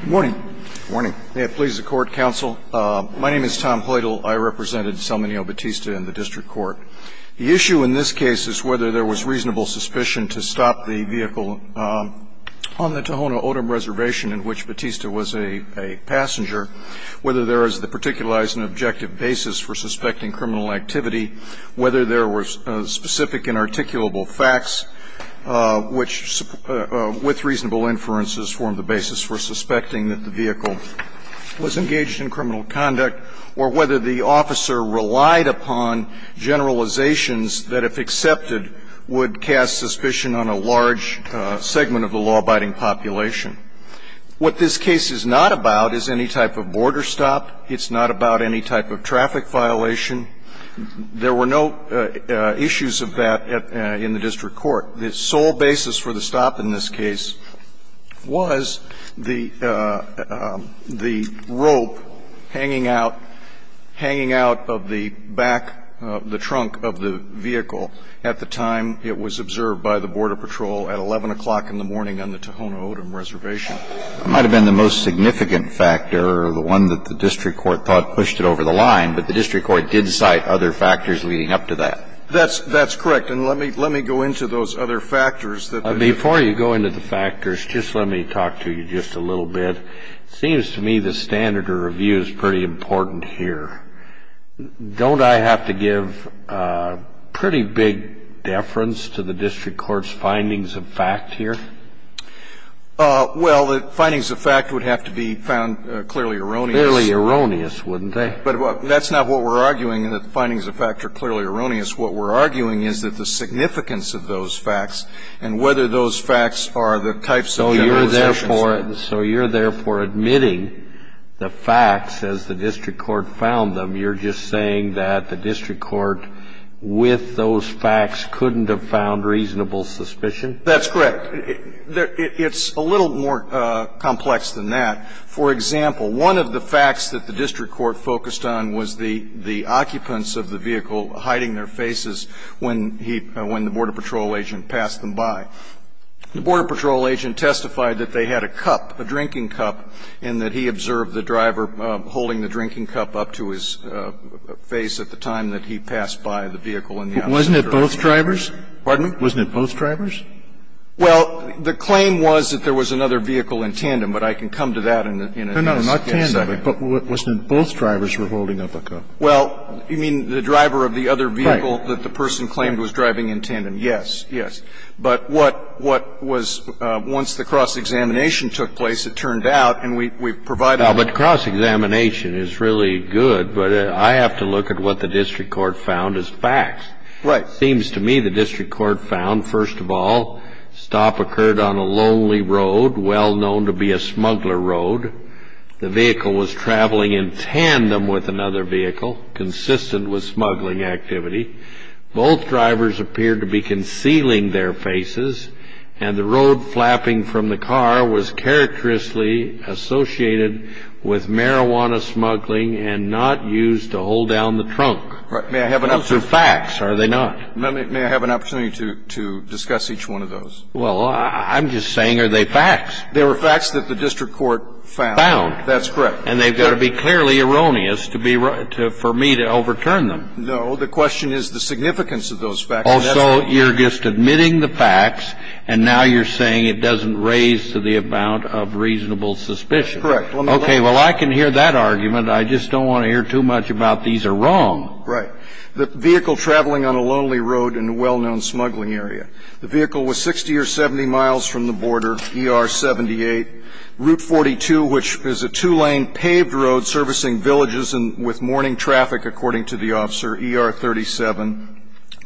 Good morning. Good morning. May it please the Court, Counsel. My name is Tom Poydle. I represented Salmineo Bautista in the District Court. The issue in this case is whether there was reasonable suspicion to stop the vehicle on the Tohono O'odham Reservation in which Bautista was a passenger, whether there is the particularized and objective basis for suspecting criminal activity, whether there were specific and articulable facts which, with reasonable inferences, formed the basis for suspecting that the vehicle was engaged in criminal conduct, or whether the officer relied upon generalizations that, if accepted, would cast suspicion on a large segment of the law-abiding population. What this case is not about is any type of border stop. It's not about any type of traffic violation. There were no issues of that in the District Court. The sole basis for the stop in this case was the rope hanging out of the back of the trunk of the vehicle at the time it was observed by the Border Patrol at 11 o'clock in the morning on the Tohono O'odham Reservation. And the reason for the stop in this case is the fact that it was observed by the Border Patrol at 11 o'clock in the morning on the Tohono O'odham Reservation. It might have been the most significant factor or the one that the District Court thought pushed it over the line, but the District Court did cite other factors leading up to that. That's correct. And let me go into those other factors. Before you go into the factors, just let me talk to you just a little bit. It seems to me the standard of review is pretty important here. Don't I have to give pretty big deference to the District Court's findings of fact here? Well, the findings of fact would have to be found clearly erroneous. Clearly erroneous, wouldn't they? But that's not what we're arguing, that the findings of fact are clearly erroneous. What we're arguing is that the significance of those facts and whether those facts are the types of generalizations So you're therefore admitting the facts as the District Court found them. You're just saying that the District Court with those facts couldn't have found reasonable suspicion? That's correct. It's a little more complex than that. I'm not going to get into the specifics of the facts, but I will say that, for example, one of the facts that the District Court focused on was the occupants of the vehicle hiding their faces when he ñ when the border patrol agent passed them by. The border patrol agent testified that they had a cup, a drinking cup, and that he observed the driver holding the drinking cup up to his face at the time that he passed by the vehicle in the opposite direction. Wasn't it both drivers? Well, the claim was that there was another vehicle in tandem, but I can come to that in a minute. No, no, not tandem, but wasn't it both drivers were holding up a cup? Well, you mean the driver of the other vehicle that the person claimed was driving in tandem? Right. Yes, yes. But what was ñ once the cross-examination took place, it turned out, and we've provided a ñ Now, but cross-examination is really good, but I have to look at what the District Court found as facts. Right. Well, it seems to me the District Court found, first of all, stop occurred on a lonely road, well-known to be a smuggler road. The vehicle was traveling in tandem with another vehicle, consistent with smuggling activity. Both drivers appeared to be concealing their faces, and the road flapping from the car was characteristically associated with marijuana smuggling and not used to hold down the trunk. Right. May I have an answer? I'm just saying, are they facts? They're facts, are they not? May I have an opportunity to discuss each one of those? Well, I'm just saying, are they facts? They were facts that the District Court found. Found. That's correct. And they've got to be clearly erroneous to be ñ for me to overturn them. No. The question is the significance of those facts. Also, you're just admitting the facts, and now you're saying it doesn't raise to the amount of reasonable suspicion. Correct. Okay. Well, I can hear that argument. I just don't want to hear too much about these are wrong. Right. The vehicle traveling on a lonely road in a well-known smuggling area. The vehicle was 60 or 70 miles from the border, ER 78. Route 42, which is a two-lane paved road servicing villages with morning traffic, according to the officer, ER 37.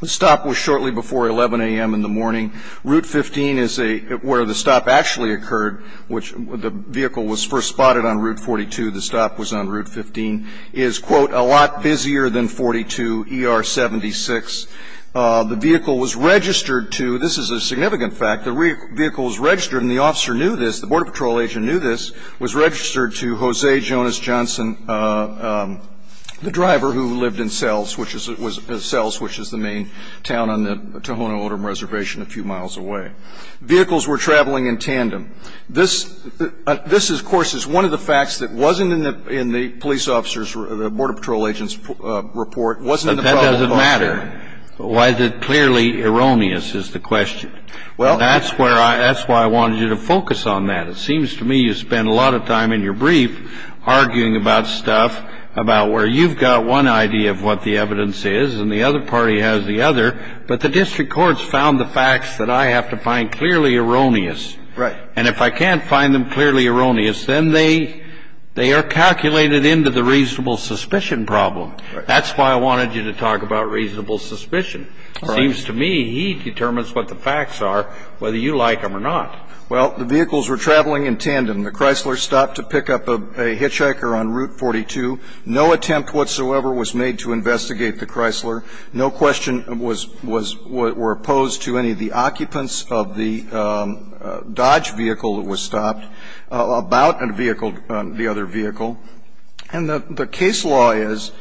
The stop was shortly before 11 a.m. in the morning. Route 15 is a ñ where the stop actually occurred, which the vehicle was first spotted on Route 42, the stop was on Route 15, is, quote, a lot busier than 42, ER 76. The vehicle was registered to ñ this is a significant fact. The vehicle was registered, and the officer knew this, the Border Patrol agent knew this, was registered to Jose Jonas Johnson, the driver who lived in Sells, which is the main town on the Tohono O'odham Reservation a few miles away. Vehicles were traveling in tandem. This, of course, is one of the facts that wasn't in the ñ in the police officer's ñ the Border Patrol agent's report, wasn't in the file. But that doesn't matter. Why is it clearly erroneous is the question. Well, that's where I ñ that's why I wanted you to focus on that. It seems to me you spend a lot of time in your brief arguing about stuff about where You've got one idea of what the evidence is, and the other party has the other. But the district courts found the facts that I have to find clearly erroneous. Right. And if I can't find them clearly erroneous, then they are calculated into the reasonable suspicion problem. Right. That's why I wanted you to talk about reasonable suspicion. All right. It seems to me he determines what the facts are, whether you like them or not. Well, the vehicles were traveling in tandem. The Chrysler stopped to pick up a hitchhiker on Route 42. No attempt whatsoever was made to investigate the Chrysler. No question was ñ was ñ were opposed to any of the occupants of the Dodge vehicle that was stopped about a vehicle ñ the other vehicle. And the case law is,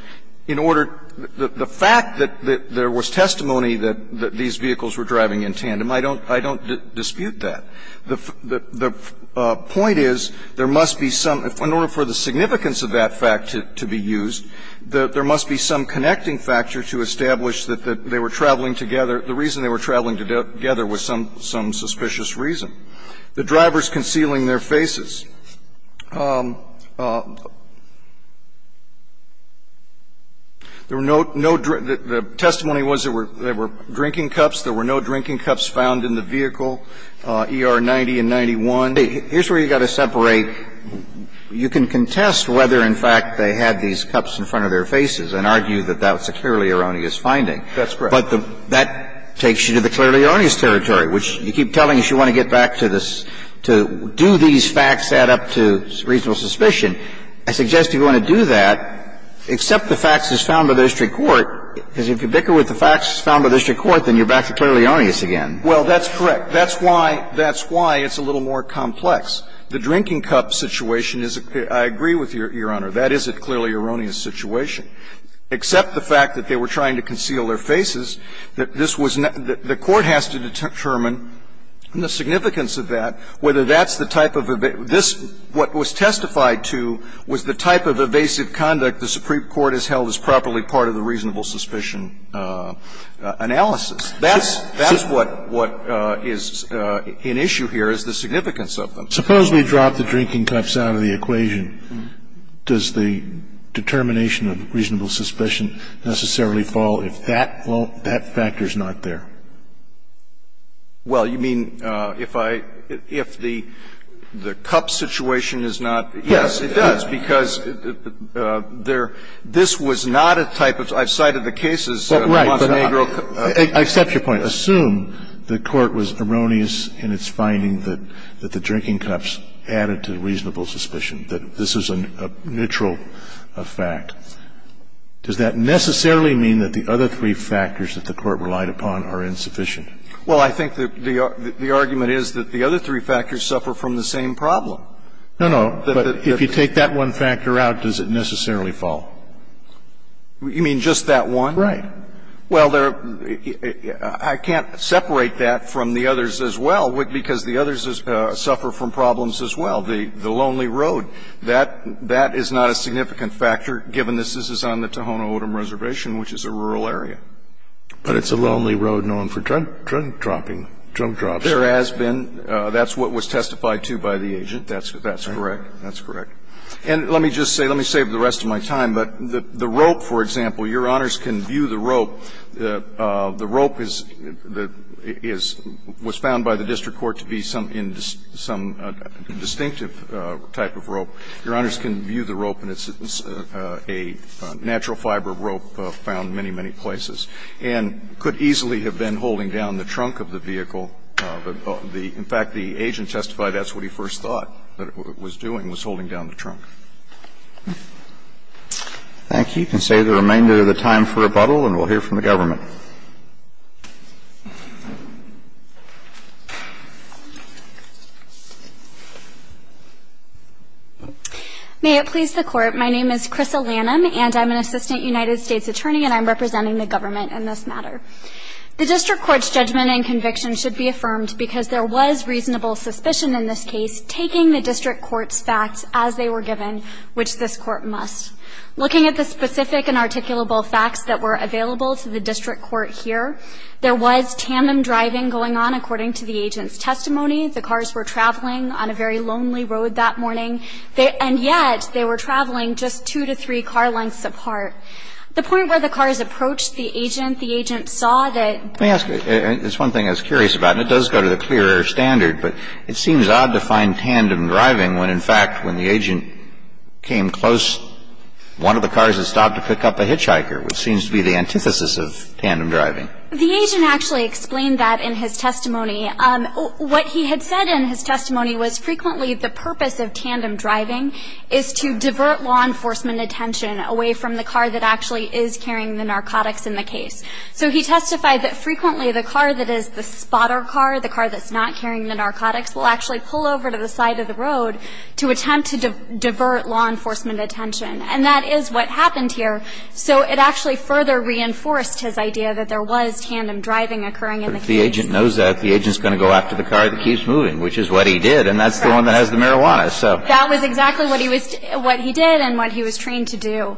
in order ñ the fact that there was testimony that these vehicles were driving in tandem, I don't ñ I don't dispute that. The point is there must be some ñ in order for the significance of that fact to be used, there must be some connecting factor to establish that they were traveling together ñ the reason they were traveling together was some suspicious reason. The drivers concealing their faces, there were no ñ the testimony was there were drinking cups. There were no drinking cups found in the vehicle, ER 90 and 91. Here's where you've got to separate. You can contest whether, in fact, they had these cups in front of their faces and argue that that was a clearly erroneous finding. That's correct. But the ñ that takes you to the clearly erroneous territory, which you keep telling us you want to get back to this ñ to do these facts add up to reasonable suspicion. I suggest if you want to do that, accept the facts as found by the district court, because if you bicker with the facts as found by the district court, then you're back to clearly erroneous again. Well, that's correct. That's why ñ that's why it's a little more complex. The drinking cup situation is ñ I agree with Your Honor. That is a clearly erroneous situation. Except the fact that they were trying to conceal their faces, that this was ñ the court has to determine the significance of that, whether that's the type of ñ this ñ what was testified to was the type of evasive conduct the Supreme Court has held that was properly part of the reasonable suspicion analysis. That's ñ that's what ñ what is in issue here is the significance of them. Suppose we drop the drinking cups out of the equation. Does the determination of reasonable suspicion necessarily fall if that factor is not there? Well, you mean if I ñ if the cup situation is not ñ yes, it does. Because there ñ this was not a type of ñ I've cited the cases of Montenegro Well, right. But I accept your point. Assume the court was erroneous in its finding that the drinking cups added to the reasonable suspicion, that this is a neutral fact. Does that necessarily mean that the other three factors that the court relied upon are insufficient? Well, I think the argument is that the other three factors suffer from the same problem. No, no. But if you take that one factor out, does it necessarily fall? You mean just that one? Right. Well, there are ñ I can't separate that from the others as well, because the others suffer from problems as well. The ñ the lonely road, that ñ that is not a significant factor, given this is on the Tohono O'odham Reservation, which is a rural area. But it's a lonely road known for drunk ñ drunk dropping, drunk drops. There has been. That's what was testified to by the agent. That's ñ that's correct. That's correct. And let me just say ñ let me save the rest of my time. But the ñ the rope, for example, Your Honors can view the rope. The ñ the rope is ñ the ñ is ñ was found by the district court to be some ñ some distinctive type of rope. Your Honors can view the rope, and it's a natural fiber rope found in many, many places and could easily have been holding down the trunk of the vehicle. But the ñ in fact, the agent testified that's what he first thought that it was doing, was holding down the trunk. Thank you. We can save the remainder of the time for rebuttal, and we'll hear from the government. May it please the Court. My name is Krissa Lanham, and I'm an assistant United States attorney, and I'm representing the government in this matter. The district court's judgment and conviction should be affirmed because there was reasonable suspicion in this case, taking the district court's facts as they were given, which this court must. Looking at the specific and articulable facts that were available to the district court here, there was tandem driving going on, according to the agent's testimony. The cars were traveling on a very lonely road that morning. And yet, they were traveling just two to three car lengths apart. The point where the cars approached the agent, the agent saw that ñ Let me ask you. It's one thing I was curious about, and it does go to the clear air standard, but it seems odd to find tandem driving when, in fact, when the agent came close, one of the cars had stopped to pick up a hitchhiker, which seems to be the antithesis of tandem driving. The agent actually explained that in his testimony. What he had said in his testimony was frequently the purpose of tandem driving is to divert law enforcement attention away from the car that actually is carrying the narcotics in the case. So he testified that frequently the car that is the spotter car, the car that's not carrying the narcotics, will actually pull over to the side of the road to attempt to divert law enforcement attention. And that is what happened here. So it actually further reinforced his idea that there was tandem driving occurring in the case. And that if the agent knows that, the agent's going to go after the car that keeps moving, which is what he did. And that's the one that has the marijuana. So ñ That was exactly what he was ñ what he did and what he was trained to do.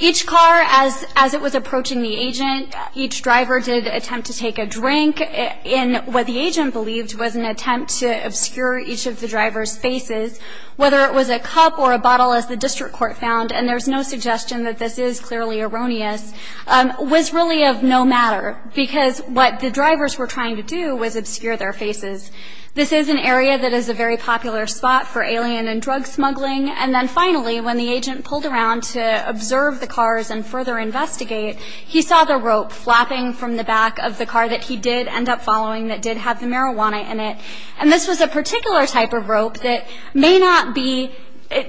Each car, as it was approaching the agent, each driver did attempt to take a drink in what the agent believed was an attempt to obscure each of the driver's faces, whether it was a cup or a bottle, as the district court found, and there's no suggestion that this is clearly erroneous, was really of no matter. Because what the drivers were trying to do was obscure their faces. This is an area that is a very popular spot for alien and drug smuggling. And then finally, when the agent pulled around to observe the cars and further investigate, he saw the rope flapping from the back of the car that he did end up following that did have the marijuana in it. And this was a particular type of rope that may not be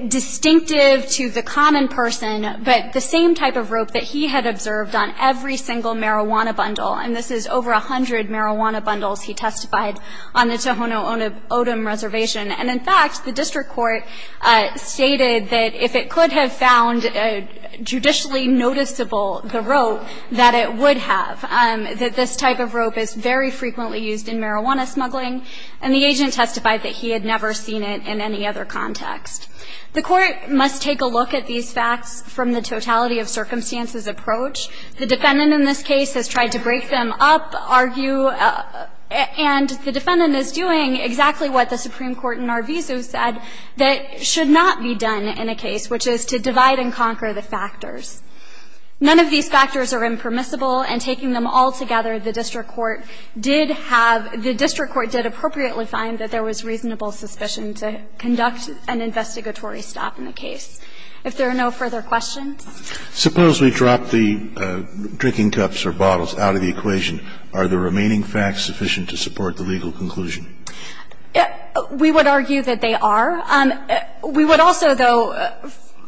distinctive to the common person, but the same type of rope that he had observed on every single marijuana bundle, and this is over a hundred marijuana bundles he testified on the Tohono O'odham Reservation. And in fact, the district court stated that if it could have found judicially noticeable the rope, that it would have, that this type of rope is very frequently used in marijuana smuggling. And the agent testified that he had never seen it in any other context. The court must take a look at these facts from the totality of circumstances approach. The defendant in this case has tried to break them up, argue, and the defendant is doing exactly what the Supreme Court in Narvisu said that should not be done in a case, which is to divide and conquer the factors. None of these factors are impermissible, and taking them all together, the district court did have the district court did appropriately find that there was reasonable suspicion to conduct an investigatory stop in the case. If there are no further questions. Suppose we drop the drinking cups or bottles out of the equation. Are the remaining facts sufficient to support the legal conclusion? We would argue that they are. We would also, though,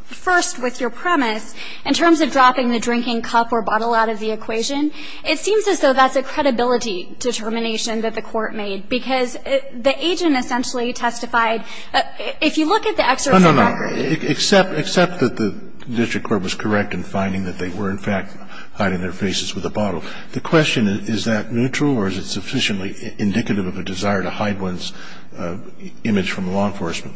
first, with your premise, in terms of dropping the drinking cup or bottle out of the equation, it seems as though that's a credibility determination that the court made, because the agent essentially testified, if you look at the exercise record. Except that the district court was correct in finding that they were, in fact, hiding their faces with the bottle. The question is, is that neutral or is it sufficiently indicative of a desire to hide one's image from law enforcement?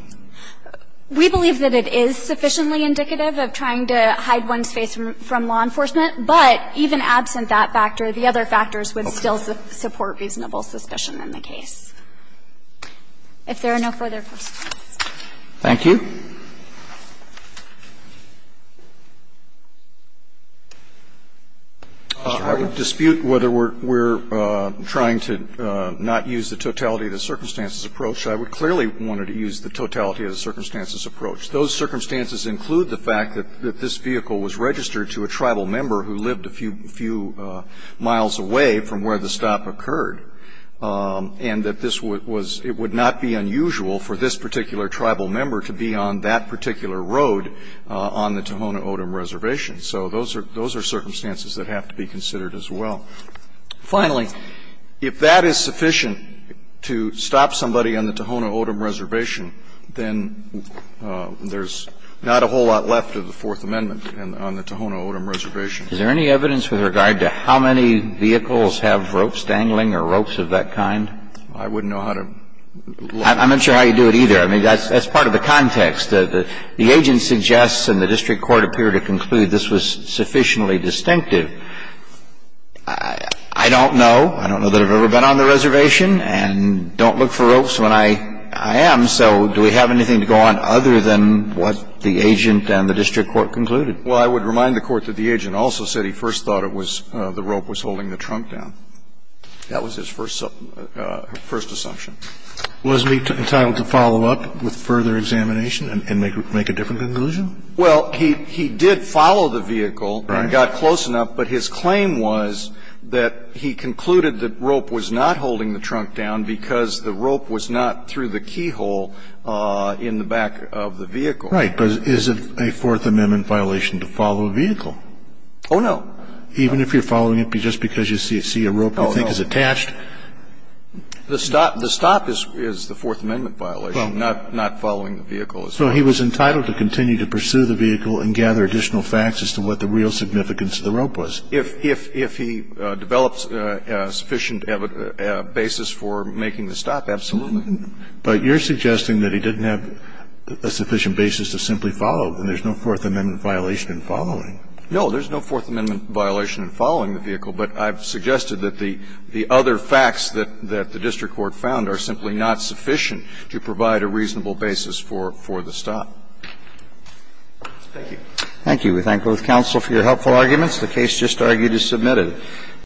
We believe that it is sufficiently indicative of trying to hide one's face from law enforcement, but even absent that factor, the other factors would still support reasonable suspicion in the case. If there are no further questions. Thank you. I would dispute whether we're trying to not use the totality of the circumstances approach. I would clearly want to use the totality of the circumstances approach. Those circumstances include the fact that this vehicle was registered to a tribal member who lived a few miles away from where the stop occurred, and that this was where the stop occurred. It would not be unusual for this particular tribal member to be on that particular road on the Tohono O'odham Reservation. So those are circumstances that have to be considered as well. Finally, if that is sufficient to stop somebody on the Tohono O'odham Reservation, then there's not a whole lot left of the Fourth Amendment on the Tohono O'odham Reservation. Is there any evidence with regard to how many vehicles have ropes dangling or ropes of that kind? I wouldn't know how to look at that. I'm not sure how you do it either. I mean, that's part of the context. The agent suggests and the district court appeared to conclude this was sufficiently distinctive. I don't know. I don't know that I've ever been on the reservation and don't look for ropes when I am. So do we have anything to go on other than what the agent and the district court concluded? Well, I would remind the Court that the agent also said he first thought it was the rope was holding the trunk down. That was his first assumption. Was he entitled to follow up with further examination and make a different conclusion? Well, he did follow the vehicle and got close enough, but his claim was that he concluded that rope was not holding the trunk down because the rope was not through the keyhole in the back of the vehicle. Right. But is it a Fourth Amendment violation to follow a vehicle? Oh, no. Even if you're following it just because you see a rope you think is attached? Oh, no. The stop is the Fourth Amendment violation, not following the vehicle. So he was entitled to continue to pursue the vehicle and gather additional facts as to what the real significance of the rope was. If he develops a sufficient basis for making the stop, absolutely. But you're suggesting that he didn't have a sufficient basis to simply follow, then there's no Fourth Amendment violation in following. No. There's no Fourth Amendment violation in following the vehicle, but I've suggested that the other facts that the district court found are simply not sufficient to provide a reasonable basis for the stop. Thank you. Thank you. We thank both counsel for your helpful arguments. The case just argued is submitted.